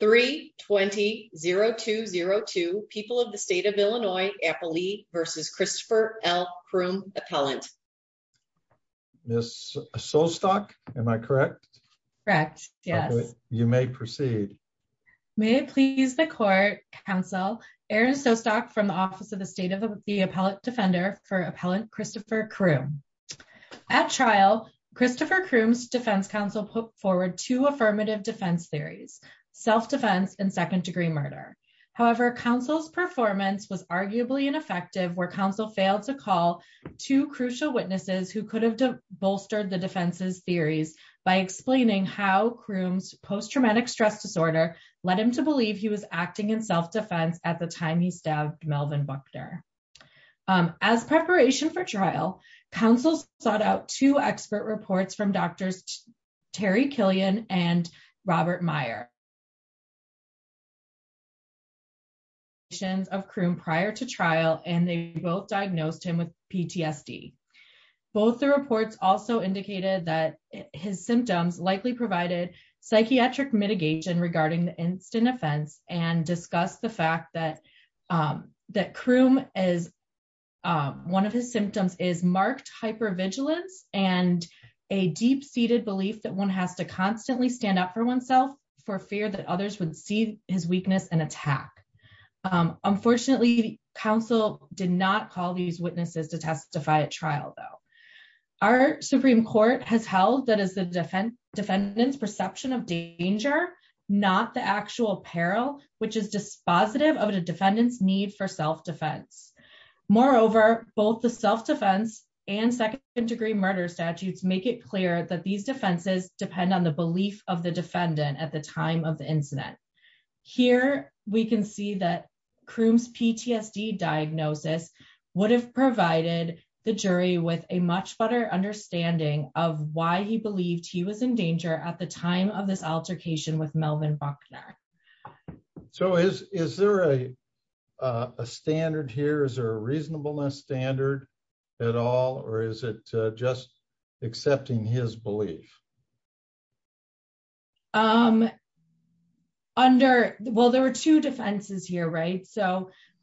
3 20 0202 people of the state of Illinois Appley versus Christopher L. Croom appellant. Miss Sostok, am I correct? Correct, yes. You may proceed. May it please the court, counsel Aaron Sostok from the office of the state of the appellate defender for appellant Christopher Croom. At trial, Christopher Croom's defense counsel put forward two affirmative defense theories, self-defense and second degree murder. However, counsel's performance was arguably ineffective where counsel failed to call two crucial witnesses who could have bolstered the defense's theories by explaining how Croom's post-traumatic stress disorder led him to believe he was acting in self-defense at the time he stabbed Melvin Buckner. As preparation for trial, counsel sought out two expert reports from Drs. Terry Killian and Robert Meyer of Croom prior to trial and they both diagnosed him with PTSD. Both the reports also indicated that his symptoms likely provided psychiatric mitigation regarding the instant offense and discuss the fact that Croom, one of his symptoms is marked hypervigilance and a deep-seated belief that one has to constantly stand up for oneself for fear that others would see his weakness and attack. Unfortunately, counsel did not call these witnesses to testify at trial though. Our Supreme Court has held that is the defendant's perception of danger, not the actual peril which is dispositive of the defendant's need for self-defense. Moreover, both the self-defense and second degree murder statutes make it clear that these defenses depend on the belief of the defendant at the time of the incident. Here we can see that Croom's PTSD diagnosis would have provided the jury with a much better understanding of why he believed he was in danger at the time of this altercation with Melvin Buckner. Is there a standard here? Is there a reasonableness standard at all or is it just accepting his belief? There were two defenses here.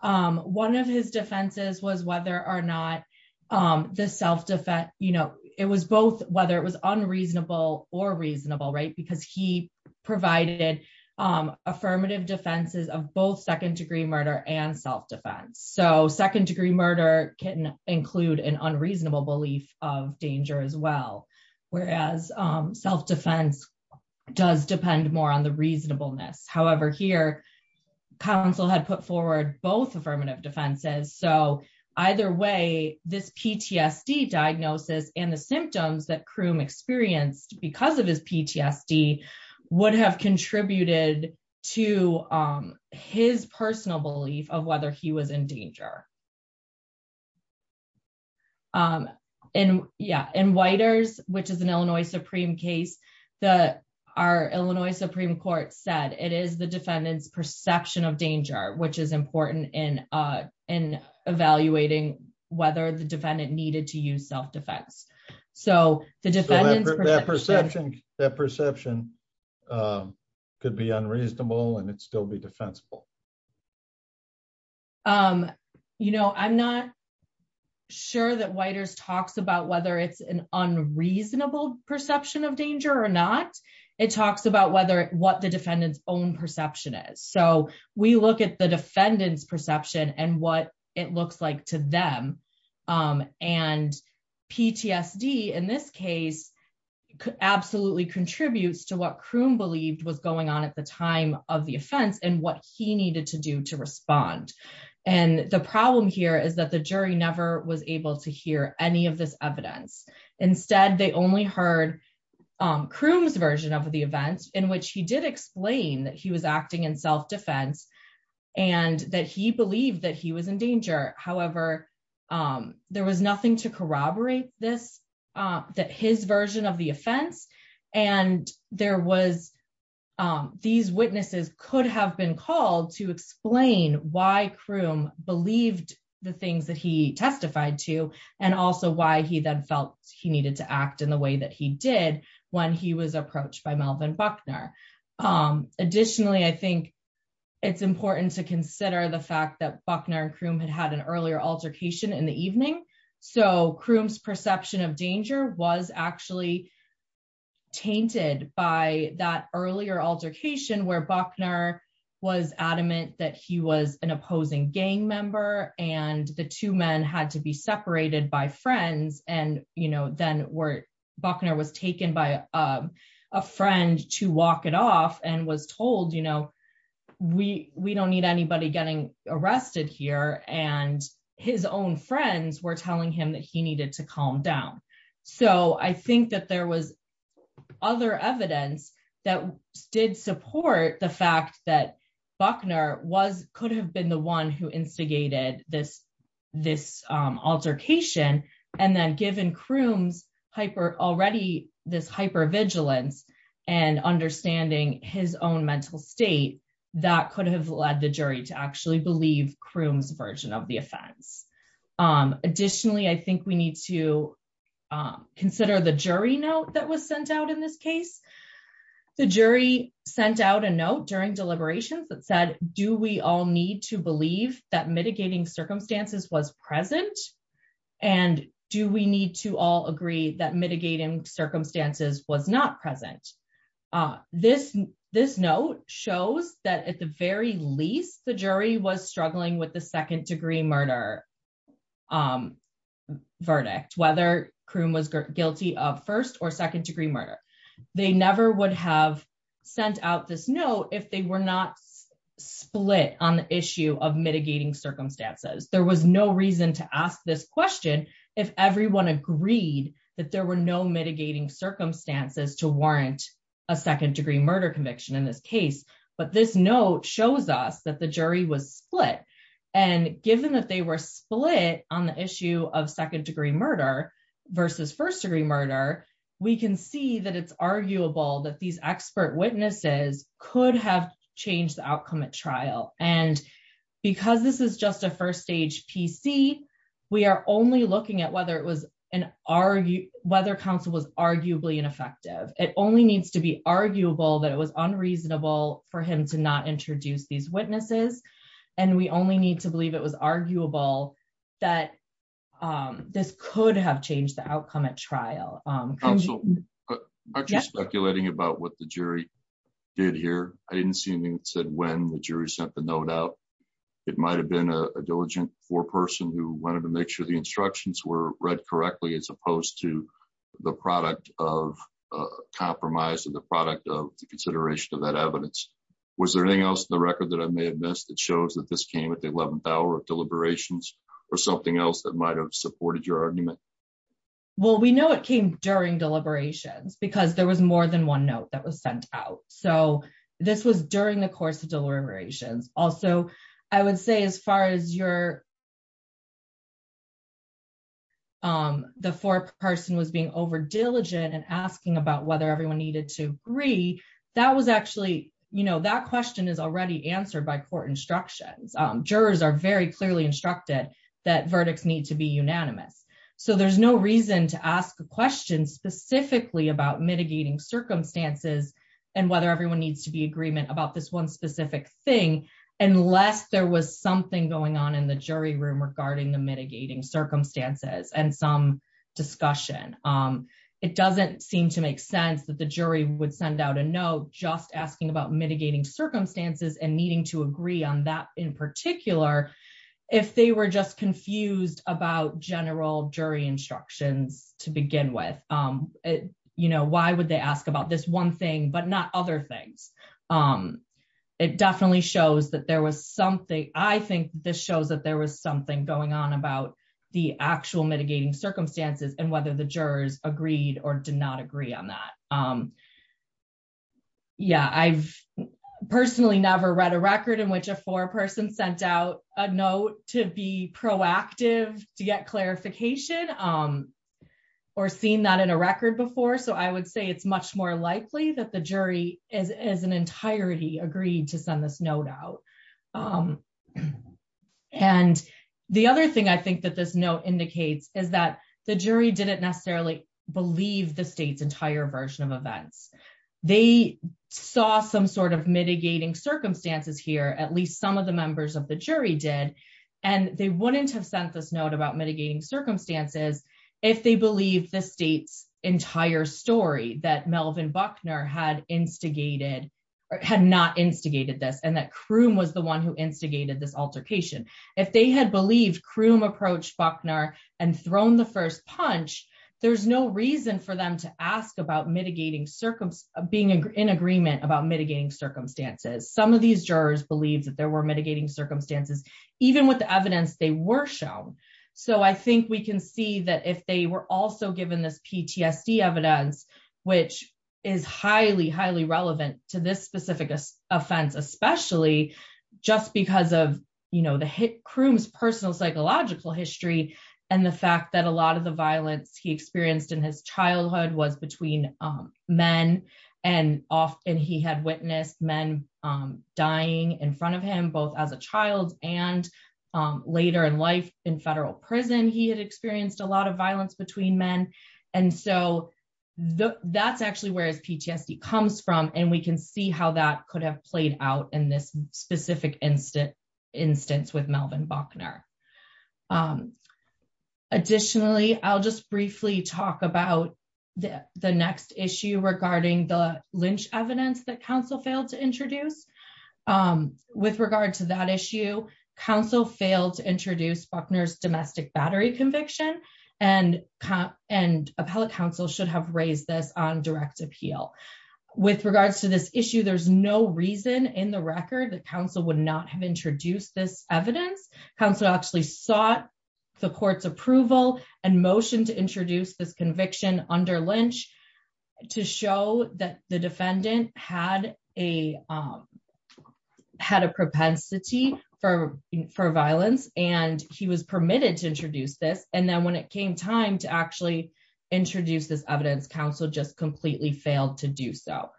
One of his defenses was whether it was unreasonable or reasonable because he provided affirmative defenses of both second degree murder and self-defense. Second degree murder can include an unreasonable belief of danger as well, whereas self-defense does depend more on the reasonableness. However, here counsel had put forward both affirmative defenses so either way this PTSD diagnosis and the symptoms that Croom experienced because of his PTSD would have contributed to his personal belief of whether he was in danger. In Whiters, which is an Illinois Supreme case, our Illinois Supreme Court said it is the defendant's perception of danger which is important in evaluating whether the defendant needed to use self-defense. That perception could be unreasonable and it still be defensible. I'm not sure that Whiters talks about whether it's an unreasonable perception of danger or not. It talks about what the defendant's own perception is. We look at the defendant's perception and what it looks like to them and PTSD in this case absolutely contributes to what Croom believed was going on at the time of the offense and what he needed to do to respond. The problem here is that the jury never was able to hear any of this evidence. Instead, they only heard Croom's version of the events in which he did explain that he was acting in self-defense and that he believed that he was in danger. However, there was nothing to corroborate that his version of the offense and these witnesses could have been called to explain why Croom believed the things that he testified to and also why he then felt he needed to act in the way that he did when he was approached by Melvin Buckner. Additionally, I think it's important to consider the fact that Buckner and Croom had had an earlier altercation in the evening so Croom's perception of danger was actually tainted by that earlier altercation where Buckner was adamant that he was an opposing gang member and the two men had to be separated by friends and then Buckner was taken by a friend to walk it off and was told we don't need anybody getting arrested here and his own friends were telling him that he needed to calm down. So I think that there was other evidence that did support the fact that Buckner could have been the one who instigated this altercation and then given Croom's already this hyper-vigilance and understanding his own mental state that could have led the jury to actually believe Croom's of the offense. Additionally, I think we need to consider the jury note that was sent out in this case. The jury sent out a note during deliberations that said do we all need to believe that mitigating circumstances was present and do we need to all agree that mitigating circumstances was not present. This note shows that at the very least the jury was struggling with the second degree murder verdict whether Croom was guilty of first or second degree murder. They never would have sent out this note if they were not split on the issue of mitigating circumstances. There was no reason to ask this question if everyone agreed that there were no mitigating circumstances to warrant a second degree murder conviction in this case but this note shows us that the jury was split and given that they were split on the issue of second degree murder versus first degree murder we can see that it's arguable that these expert witnesses could have changed the outcome at trial and because this is just a first stage PC we are only looking at whether it was an argue whether counsel was arguably ineffective. It only needs to be arguable that it was unreasonable for him to not introduce these witnesses and we only need to believe it was arguable that this could have changed the outcome at trial. Aren't you speculating about what the jury did here? I didn't see anything that said when the jury sent the note out. It might have been a diligent foreperson who wanted to make sure the instructions were read correctly as opposed to the product of a compromise or the product of the consideration of that evidence. Was there anything else in the record that I may have missed that shows that this came at the 11th hour of deliberations or something else that might have supported your argument? Well we know it came during deliberations because there was more than one note that was sent out so this was during the course of deliberations. Also I would say as far as your the foreperson was being over diligent and asking about whether everyone needed to agree that was actually you know that question is already answered by court instructions. Jurors are very clearly instructed that verdicts need to be unanimous so there's no reason to ask a question specifically about mitigating circumstances and whether everyone needs to be agreement about this one specific thing unless there was something going on in the jury room regarding the mitigating circumstances and some discussion. It doesn't seem to make sense that the jury would send out a note just asking about mitigating circumstances and needing to agree on that in particular if they were just confused about general jury instructions to begin with. You know why would they ask about this one thing but not other things? It definitely shows that there was something I think this shows that there was something going on about the actual mitigating circumstances and whether the jurors agreed or did not agree on that. Yeah I've personally never read a record in which a foreperson sent out a note to be proactive to get clarification or seen that in a record before so I would say it's much more likely that the jury as an entirety agreed to send this note out. And the other thing I think that this note indicates is that the jury didn't necessarily believe the state's entire version of events. They saw some sort of mitigating circumstances here at least some of the members of the jury did and they wouldn't have sent this note about mitigating circumstances if they believed the state's story that Melvin Buckner had instigated or had not instigated this and that Croom was the one who instigated this altercation. If they had believed Croom approached Buckner and thrown the first punch there's no reason for them to ask about mitigating circumstance being in agreement about mitigating circumstances. Some of these jurors believed that there were mitigating circumstances even with the evidence they were shown. So I think we can see that if they were also given this PTSD evidence which is highly highly relevant to this specific offense especially just because of you know the hit Croom's personal psychological history and the fact that a lot of the violence he experienced in his childhood was between men and often he had witnessed men dying in front of him both as a child and later in life in federal prison he had experienced a and so that's actually where his PTSD comes from and we can see how that could have played out in this specific instance with Melvin Buckner. Additionally I'll just briefly talk about the next issue regarding the lynch evidence that council failed to introduce. With regard to that issue council failed to introduce Buckner's domestic battery conviction and appellate council should have raised this on direct appeal. With regards to this issue there's no reason in the record that council would not have introduced this evidence. Council actually sought the court's approval and motion to introduce this conviction under lynch to show that the defendant had a propensity for violence and he was permitted to introduce this and then when it came time to actually introduce this evidence council just completely failed to do so.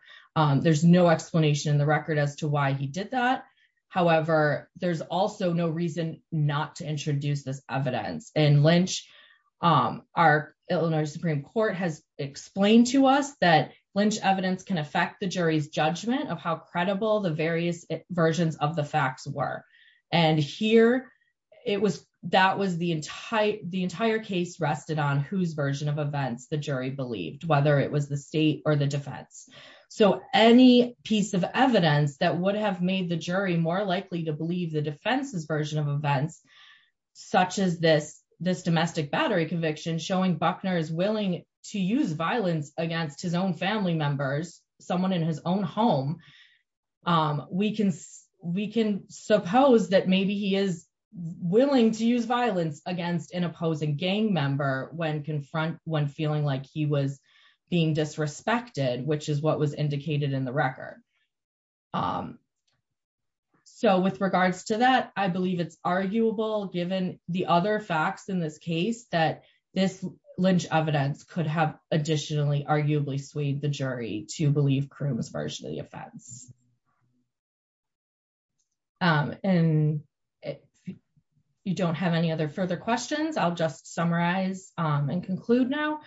There's no explanation in the record as to why he did that however there's also no reason not to introduce this evidence and lynch our Illinois Supreme Court has explained to us that lynch evidence can affect the jury's judgment of how credible the various versions of the facts were and here it was that was the entire the entire case rested on whose version of events the jury believed whether it was the state or the defense. So any piece of evidence that would have made the jury more likely to believe the defense's version of events such as this this domestic battery conviction showing Buckner is willing to use violence against his own family members someone in his own home we can we can suppose that maybe he is willing to use violence against an opposing gang member when confront when feeling like he was being disrespected which is what was indicated in the record. So with regards to that I believe it's arguable given the other facts in this case that this lynch evidence could have additionally arguably swayed the jury to believe Croom's version of the offense. And if you don't have any other further questions I'll just summarize and conclude now.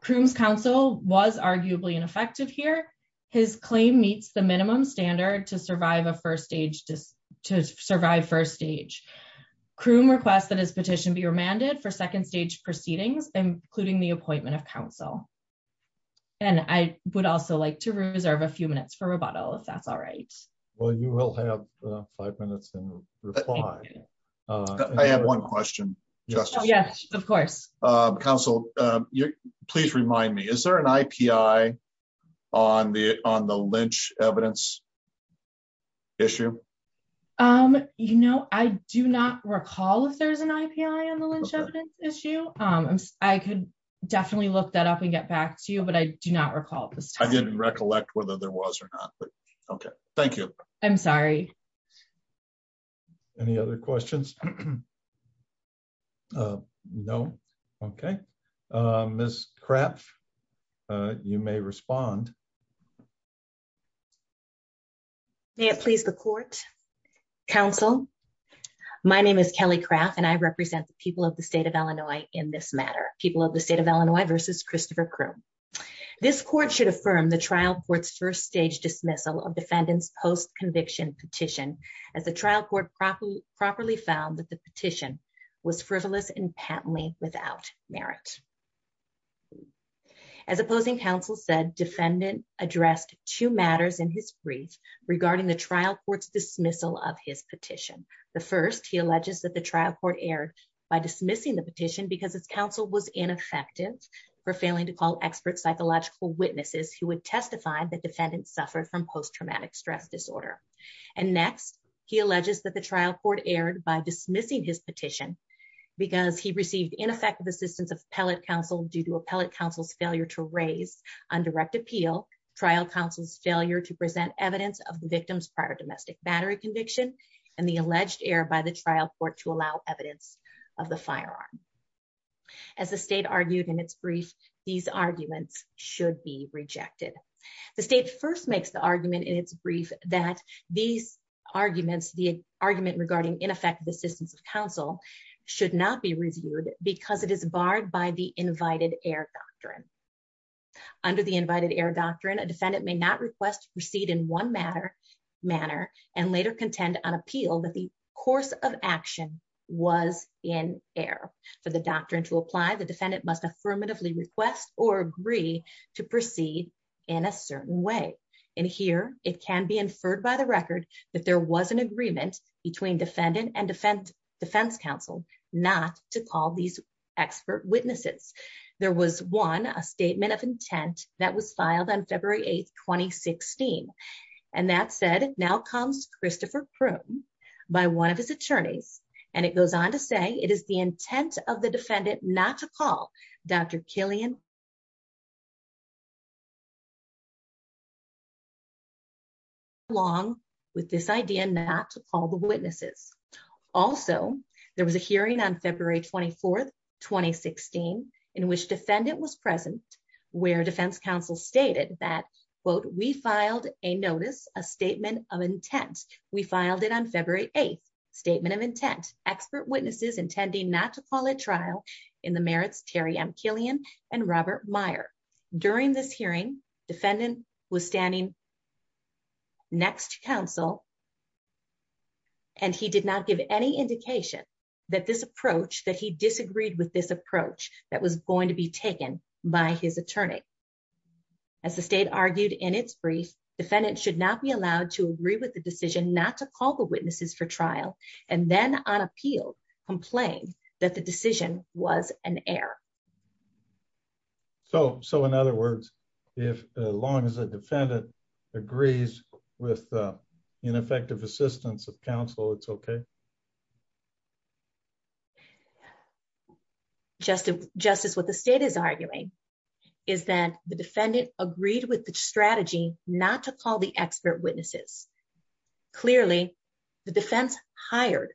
Croom's counsel was arguably ineffective here his claim meets the minimum standard to survive a first stage to survive first stage. Croom requests that his petition be remanded for and I would also like to reserve a few minutes for rebuttal if that's all right. Well you will have five minutes and reply. I have one question justice. Yes of course. Counsel please remind me is there an IPI on the on the lynch evidence issue? You know I do not recall if there's an IPI on the lynch evidence issue. I could definitely look up and get back to you but I do not recall at this time. I didn't recollect whether there was or not but okay thank you. I'm sorry. Any other questions? No okay. Ms. Kraff you may respond. May it please the court. Counsel my name is Kelly Kraff and I represent the people of the state of Croom. This court should affirm the trial court's first stage dismissal of defendant's post conviction petition as the trial court properly found that the petition was frivolous and patently without merit. As opposing counsel said defendant addressed two matters in his brief regarding the trial court's dismissal of his petition. The first he alleges that the trial court erred by dismissing petition because its counsel was ineffective for failing to call expert psychological witnesses who would testify that defendants suffered from post-traumatic stress disorder. And next he alleges that the trial court erred by dismissing his petition because he received ineffective assistance of appellate counsel due to appellate counsel's failure to raise on direct appeal trial counsel's failure to present evidence of the victim's prior domestic battery conviction and the alleged error by the trial court to allow evidence of the firearm. As the state argued in its brief these arguments should be rejected. The state first makes the argument in its brief that these arguments the argument regarding ineffective assistance of counsel should not be reviewed because it is barred by the invited air doctrine. Under the invited air doctrine a defendant may not request to proceed in one matter manner and later contend on appeal that the course of action was in air. For the doctrine to apply the defendant must affirmatively request or agree to proceed in a certain way. In here it can be inferred by the record that there was an agreement between defendant and defense counsel not to call these expert witnesses. There was one a statement of intent that was filed on February 8th 2016 and that said now comes Christopher Prune by one of his attorneys and it goes on to say it is the intent of the defendant not to call Dr. Killian along with this idea not to call the witnesses. Also there was a hearing on February 24th in which defendant was present where defense counsel stated that quote we filed a notice a statement of intent we filed it on February 8th statement of intent expert witnesses intending not to call a trial in the merits Terry M Killian and Robert Meyer. During this hearing defendant was standing next to counsel and he did not give any indication that this approach that he disagreed with this approach that was going to be taken by his attorney. As the state argued in its brief defendant should not be allowed to agree with the decision not to call the witnesses for trial and then on appeal complain that the decision was an error. So in other words if as long as just as what the state is arguing is that the defendant agreed with the strategy not to call the expert witnesses clearly the defense hired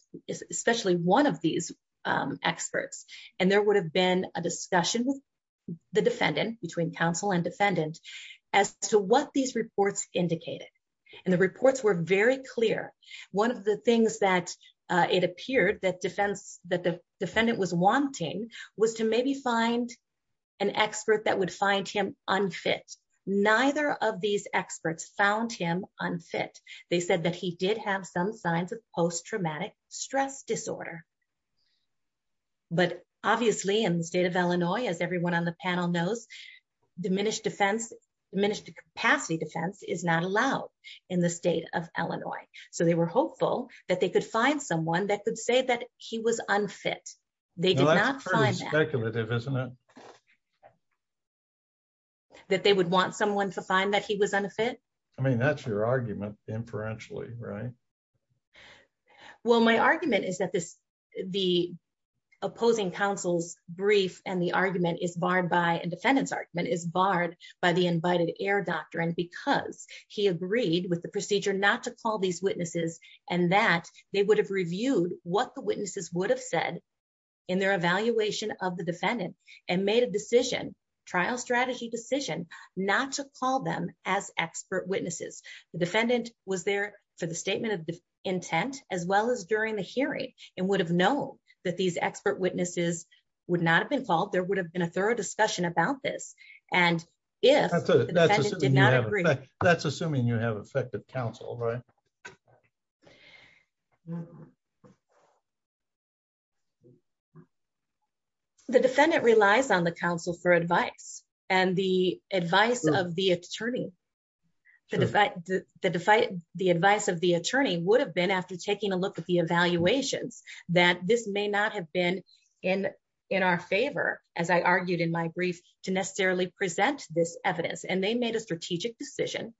especially one of these experts and there would have been a discussion with the defendant between counsel and defendant as to what these reports indicated and the reports were very clear. One of the things that it appeared that defense that the wanted was to maybe find an expert that would find him unfit. Neither of these experts found him unfit. They said that he did have some signs of post-traumatic stress disorder but obviously in the state of Illinois as everyone on the panel knows diminished defense diminished capacity defense is not allowed in the state of Illinois. So they were hopeful that they could find someone that could say that he was unfit. They did not find speculative isn't it that they would want someone to find that he was unfit. I mean that's your argument inferentially right. Well my argument is that this the opposing counsel's brief and the argument is barred by and defendant's argument is barred by the invited air doctrine because he agreed with procedure not to call these witnesses and that they would have reviewed what the witnesses would have said in their evaluation of the defendant and made a decision trial strategy decision not to call them as expert witnesses. The defendant was there for the statement of intent as well as during the hearing and would have known that these expert witnesses would not have been called. There would have been a thorough discussion about this and if the defendant did not agree that's assuming you have effective counsel right. The defendant relies on the counsel for advice and the advice of the attorney the fact that the advice of the attorney would have been after taking a look at the evaluations that this may not have been in in our favor as I argued in my brief to necessarily present this evidence and they made a strategic decision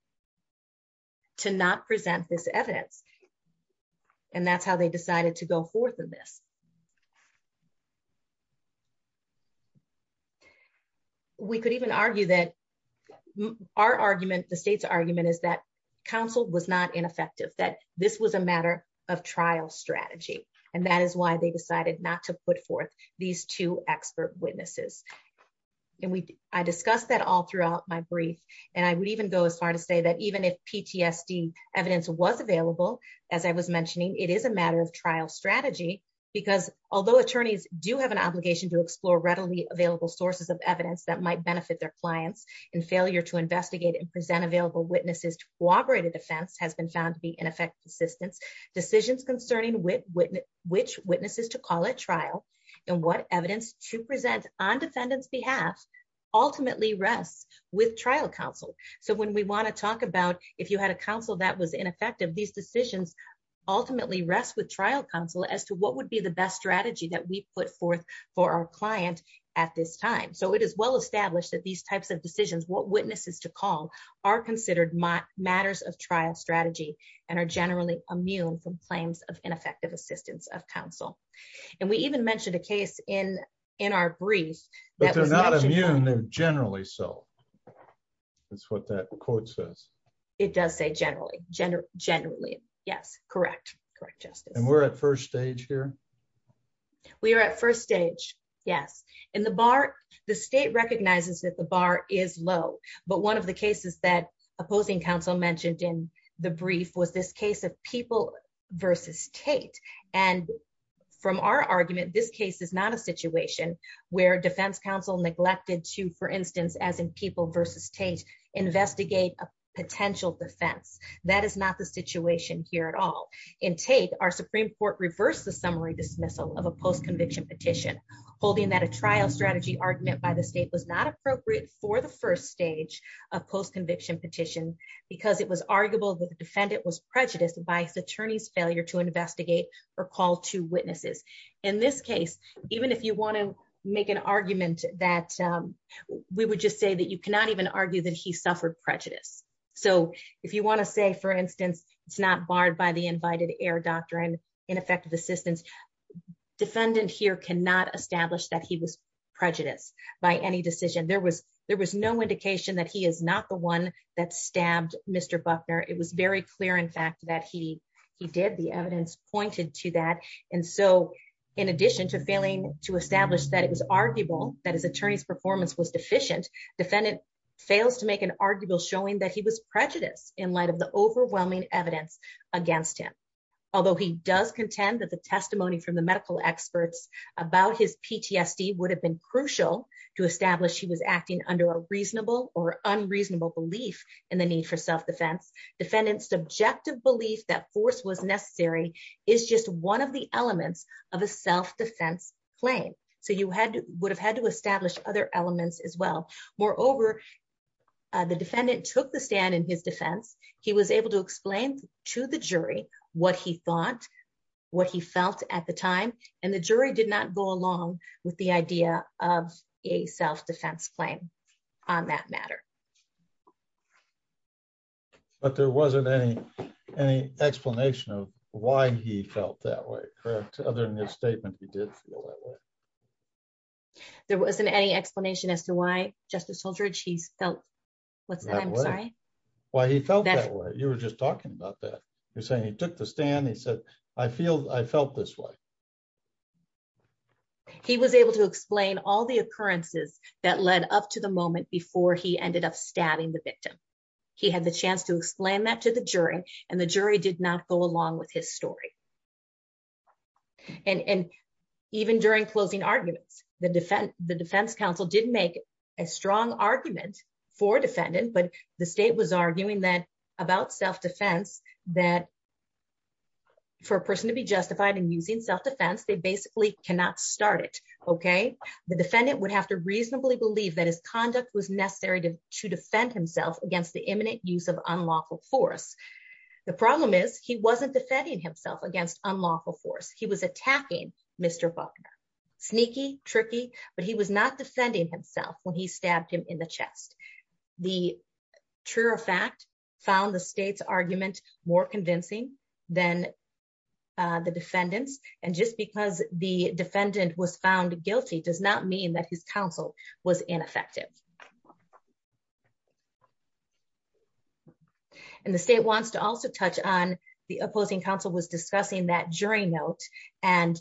to not present this evidence and that's how they decided to go forth in this. We could even argue that our argument the state's argument is that counsel was not ineffective that this was a matter of trial strategy and that is why they my brief and I would even go as far to say that even if PTSD evidence was available as I was mentioning it is a matter of trial strategy because although attorneys do have an obligation to explore readily available sources of evidence that might benefit their clients and failure to investigate and present available witnesses to corroborate a defense has been found to be in effect persistence decisions concerning which witnesses to call at trial and what evidence to with trial counsel. So when we want to talk about if you had a counsel that was ineffective these decisions ultimately rest with trial counsel as to what would be the best strategy that we put forth for our client at this time. So it is well established that these types of decisions what witnesses to call are considered matters of trial strategy and are generally immune from claims of ineffective assistance of counsel and we even mentioned a case in in our brief but they're not immune they're generally so that's what that quote says it does say generally generally yes correct correct justice and we're at first stage here we are at first stage yes in the bar the state recognizes that the bar is low but one of the cases that opposing counsel mentioned in the brief was this case of people versus Tate and from our argument this case is not a situation where defense counsel neglected to for instance as in people versus Tate investigate a potential defense that is not the situation here at all in Tate our supreme court reversed the summary dismissal of a post-conviction petition holding that a trial strategy argument by the state was not appropriate for the first stage of post-conviction petition because it was arguable that the defendant was prejudiced by his attorney's failure to investigate or call to witnesses in this case even if you want to make an argument that we would just say that you cannot even argue that he suffered prejudice so if you want to say for instance it's not barred by the invited heir doctrine ineffective assistance defendant here cannot establish that he was prejudiced by any decision there was there was no indication that he is not one that stabbed Mr. Buckner it was very clear in fact that he he did the evidence pointed to that and so in addition to failing to establish that it was arguable that his attorney's performance was deficient defendant fails to make an arguable showing that he was prejudiced in light of the overwhelming evidence against him although he does contend that the testimony from the medical experts about his PTSD would have been crucial to establish he was acting under a reasonable or unreasonable belief in the need for self-defense defendant's subjective belief that force was necessary is just one of the elements of a self-defense claim so you had would have had to establish other elements as well moreover the defendant took the stand in his defense he was able to explain to the jury what he thought what he felt at the time and the jury did not go but there wasn't any any explanation of why he felt that way correct other than his statement he did feel that way there wasn't any explanation as to why justice holdridge he felt what's that why he felt that way you were just talking about that you're saying he took the stand he said i feel i felt this way he was able to explain all the occurrences that led up to the moment before he ended up stabbing the victim he had the chance to explain that to the jury and the jury did not go along with his story and and even during closing arguments the defense the defense counsel did make a strong argument for defendant but the state was arguing that about self-defense that for a person to be justified in using self-defense they basically cannot start it okay the defendant would have to reasonably believe that his conduct was necessary to to defend himself against the imminent use of unlawful force the problem is he wasn't defending himself against unlawful force he was attacking mr buckner sneaky tricky but he was not defending himself when he stabbed him in the chest the truer fact found the state's argument more convincing than uh the defendants and just because the defendant was found guilty does not mean that his counsel was ineffective and the state wants to also touch on the opposing counsel was discussing that jury note and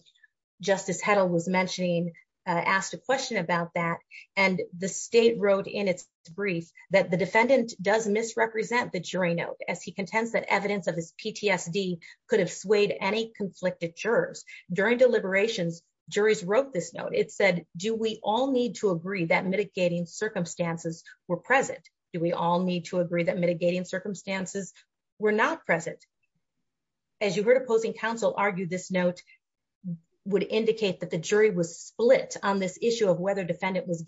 justice heddle was mentioning uh asked a question about that and the state wrote in its brief that the defendant does misrepresent the jury note as he contends that evidence of his ptsd could have swayed any conflicted jurors during deliberations juries wrote this note it said do we all need to agree that mitigating circumstances were present do we all need to agree that mitigating circumstances were not present as you heard opposing counsel argued this note would indicate that the jury was split on this issue of whether defendant was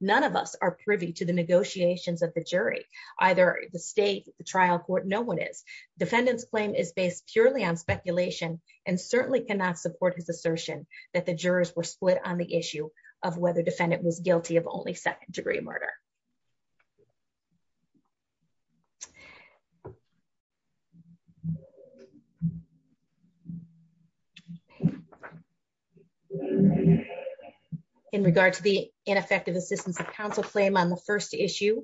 none of us are privy to the negotiations of the jury either the state the trial court no one is defendant's claim is based purely on speculation and certainly cannot support his assertion that the jurors were split on the issue of whether defendant was guilty of only second degree murder so in regard to the ineffective assistance of counsel claim on the first issue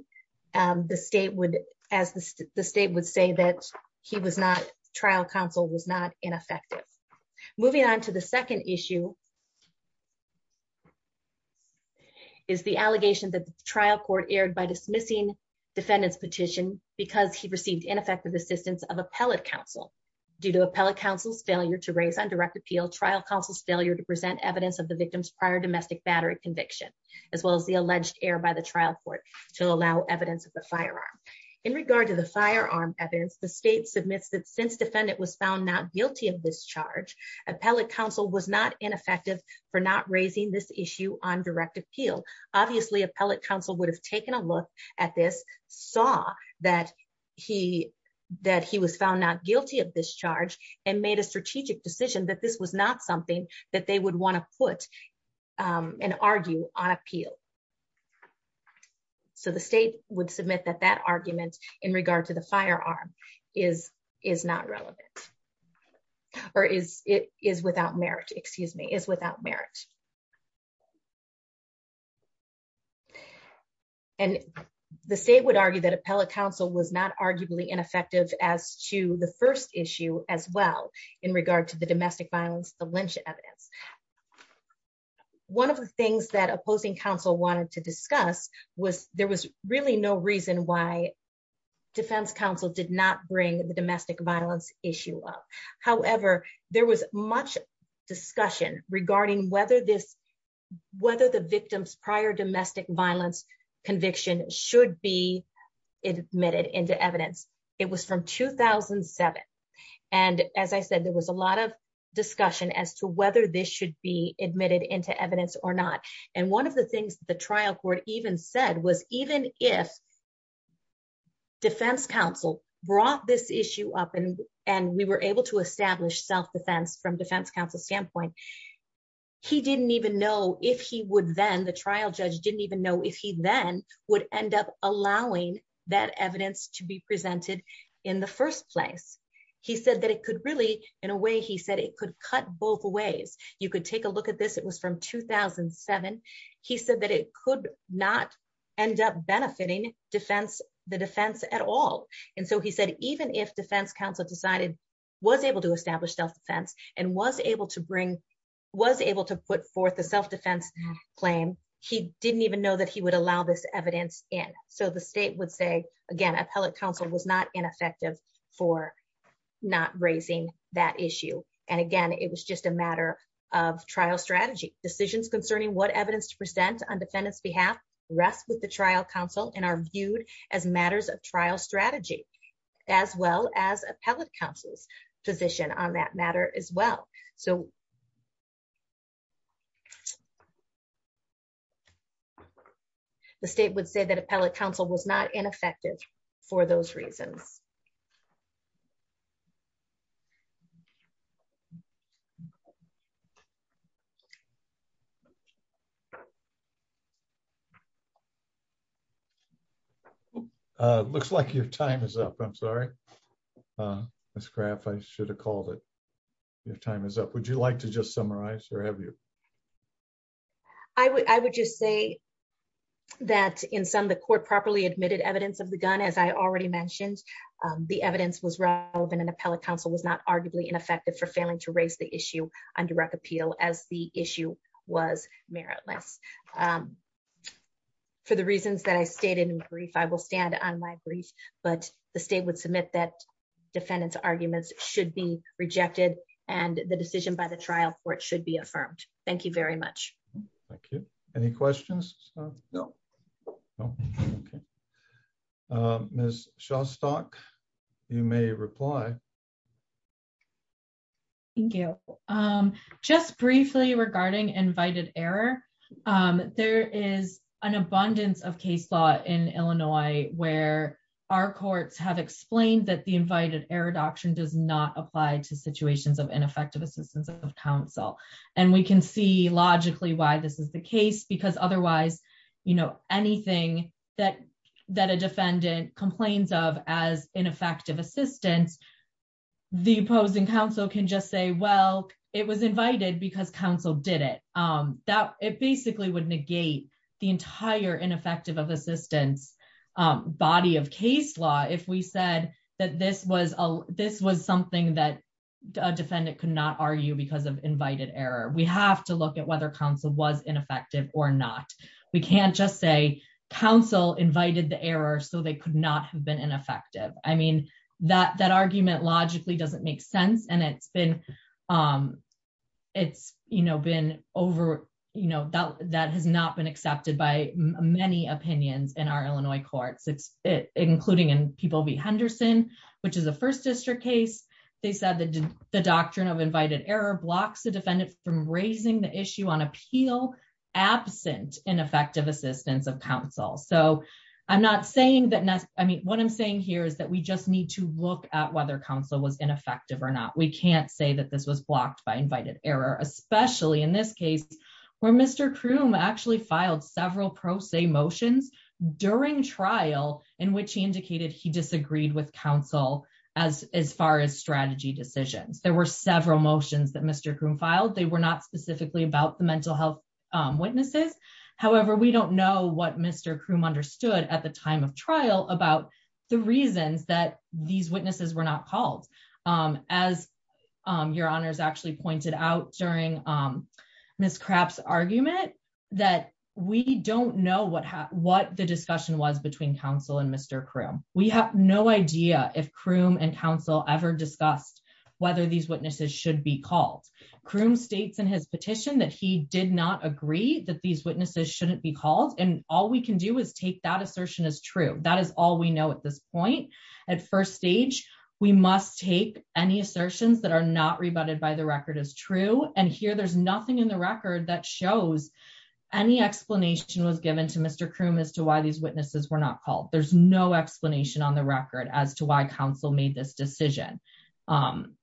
um the state would as the state would say that he was not trial counsel was not ineffective moving on to the second issue is the allegation that the trial court erred by dismissing defendant's petition because he received ineffective assistance of appellate counsel due to appellate counsel's failure to raise on direct appeal trial counsel's failure to present evidence of the victim's prior domestic battery conviction as well as the alleged error by the trial court to allow evidence of the firearm in regard to the firearm evidence the state submits that since defendant was found not for not raising this issue on direct appeal obviously appellate counsel would have taken a look at this saw that he that he was found not guilty of this charge and made a strategic decision that this was not something that they would want to put um and argue on appeal so the state would submit that that argument in regard to the firearm is is not relevant or is it is without merit excuse me is without merit and the state would argue that appellate counsel was not arguably ineffective as to the first issue as well in regard to the domestic violence the lynch evidence one of the things that opposing counsel wanted to discuss was there was really no reason why defense counsel did not bring the domestic violence issue up however there was much discussion regarding whether this whether the victim's prior domestic violence conviction should be admitted into evidence it was from 2007 and as i said there was a lot of discussion as to whether this should be admitted into evidence or not and one of the things the trial court even said was even if defense counsel brought this issue up and and we were able to establish self defense from defense counsel standpoint he didn't even know if he would then the trial judge didn't even know if he then would end up allowing that evidence to be presented in the first place he said that it could really in a way he said it could cut both ways you could take a look at this was from 2007 he said that it could not end up benefiting defense the defense at all and so he said even if defense counsel decided was able to establish self-defense and was able to bring was able to put forth the self-defense claim he didn't even know that he would allow this evidence in so the state would say again appellate counsel was not ineffective for not raising that issue and again it was just a matter of trial strategy decisions concerning what evidence to present on defendant's behalf rests with the trial counsel and are viewed as matters of trial strategy as well as appellate counsel's position on that matter as well so the state would say that appellate counsel was not ineffective for those reasons okay uh looks like your time is up i'm sorry uh miss graph i should have called it your time is up would you like to just summarize or have you i would i would just say that in some the court properly admitted evidence of the gun as i already mentioned um the evidence was relevant and appellate counsel was not arguably ineffective for failing to raise the issue on direct appeal as the issue was meritless um for the reasons that i stated in brief i will stand on my brief but the state would submit that defendant's arguments should be rejected and the decision by the trial court should be affirmed thank you very much thank you any questions no no okay um miss shawstock you may reply thank you um just briefly regarding invited error um there is an abundance of case law in illinois where our courts have explained that the invited error doctrine does not apply to situations of ineffective assistance of counsel and we can see logically why this is the case because otherwise you know anything that that a defendant complains of as ineffective assistance the opposing counsel can just say well it was invited because counsel did it um that it basically would negate the entire ineffective of assistance um body of case law if we said that this was a this was something that a defendant could not argue because of invited error we have to look at whether counsel was ineffective or not we can't just say council invited the error so they could not have been ineffective i mean that that argument logically doesn't make sense and it's been um it's you know been over you know that that has not been accepted by many opinions in our illinois courts it's it including in people v henderson which is a first district case they said that the doctrine of invited error blocks the defendant from raising the issue on appeal absent ineffective assistance of counsel so i'm not saying that i mean what i'm saying here is that we just need to look at whether counsel was ineffective or not we can't say that this was blocked by invited error especially in this case where mr chrome actually filed several pro se motions during trial in which he indicated he disagreed with counsel as as far as strategy decisions there were several motions that mr chrome filed they were not specifically about the mental health witnesses however we don't know what mr chrome understood at the time of trial about the reasons that these witnesses were not called um as um your honors actually pointed out during um miss crapp's argument that we don't know what what the discussion was between counsel and mr chrome we have no idea if chrome and counsel ever discussed whether these witnesses should be called chrome states in his petition that he did not agree that these witnesses shouldn't be called and all we can do is take that assertion as true that is all we know at this point at first stage we must take any assertions that are not rebutted by the record as true and here there's nothing in the record that shows any explanation was given to mr chrome as to why these witnesses were not called there's no explanation on the record as to why counsel made this decision um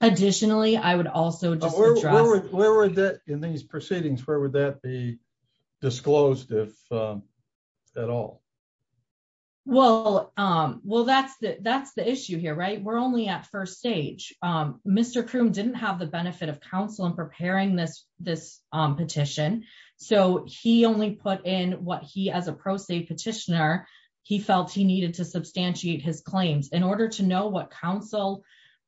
additionally i would also just address where would that in these proceedings where would that be disclosed if um at all well um well that's the that's the issue here right we're only at first stage um mr chrome didn't have the benefit of counsel in preparing this this um petition so he only put in what he as a pro se petitioner he felt he needed to substantiate his claims in order to know what counsel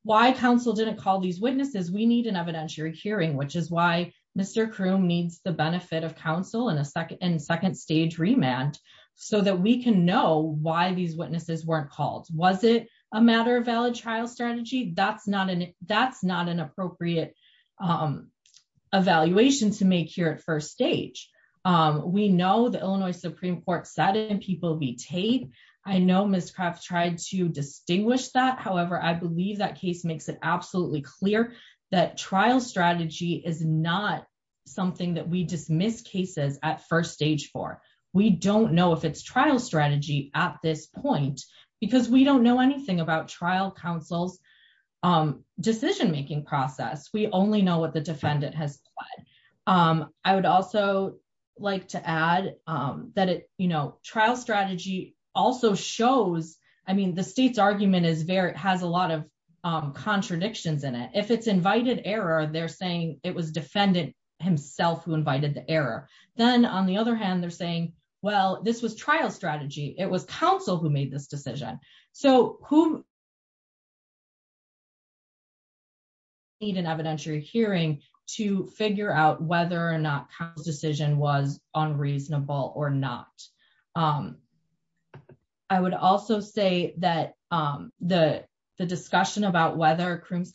why counsel didn't call these witnesses we need an evidentiary hearing which is why mr chrome needs the benefit of counsel in a second and second stage remand so that we can know why these witnesses weren't called was it a matter of valid trial strategy that's not an that's not an appropriate um evaluation to make here at first stage um we know the illinois supreme court said and people be taped i know ms craft tried to that trial strategy is not something that we dismiss cases at first stage for we don't know if it's trial strategy at this point because we don't know anything about trial counsel's um decision making process we only know what the defendant has pled um i would also like to add um that it you know trial strategy also shows i mean the state's argument is very has a lot of contradictions in it if it's invited error they're saying it was defendant himself who invited the error then on the other hand they're saying well this was trial strategy it was counsel who made this decision so who need an evidentiary hearing to figure out whether or not counsel's decision was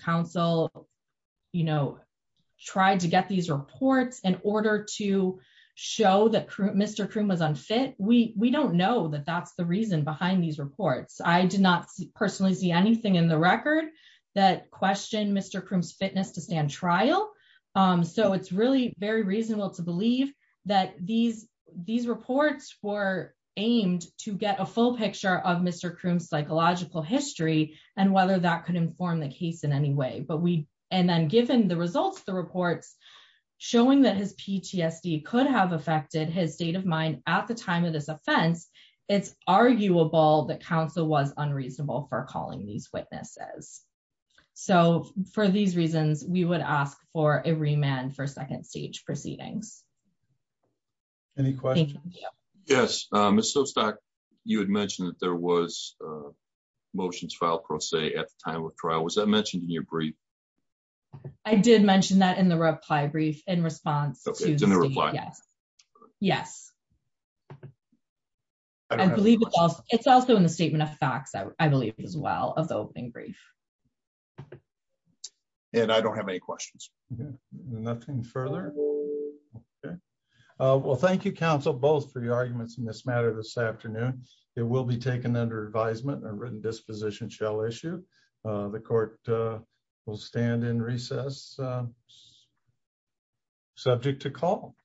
counsel you know tried to get these reports in order to show that mr chrome was unfit we we don't know that that's the reason behind these reports i did not personally see anything in the record that questioned mr chrome's fitness to stand trial um so it's really very reasonable to believe that these these reports were aimed to get a full picture of mr chrome's psychological history and whether that could inform the case in any way but we and then given the results the reports showing that his ptsd could have affected his state of mind at the time of this offense it's arguable that counsel was unreasonable for calling these witnesses so for these reasons we would ask for a remand for second stage proceedings any questions yes um so stock you had mentioned that there was uh motions filed pro se at the time of trial was that mentioned in your brief i did mention that in the reply brief in response yes i believe it's also in the statement of facts i believe as well of the opening brief and i don't have any questions yeah nothing further uh well thank you counsel both for your arguments in this matter this afternoon it will be taken under advisement a written disposition shall issue the court will stand in recess subject to call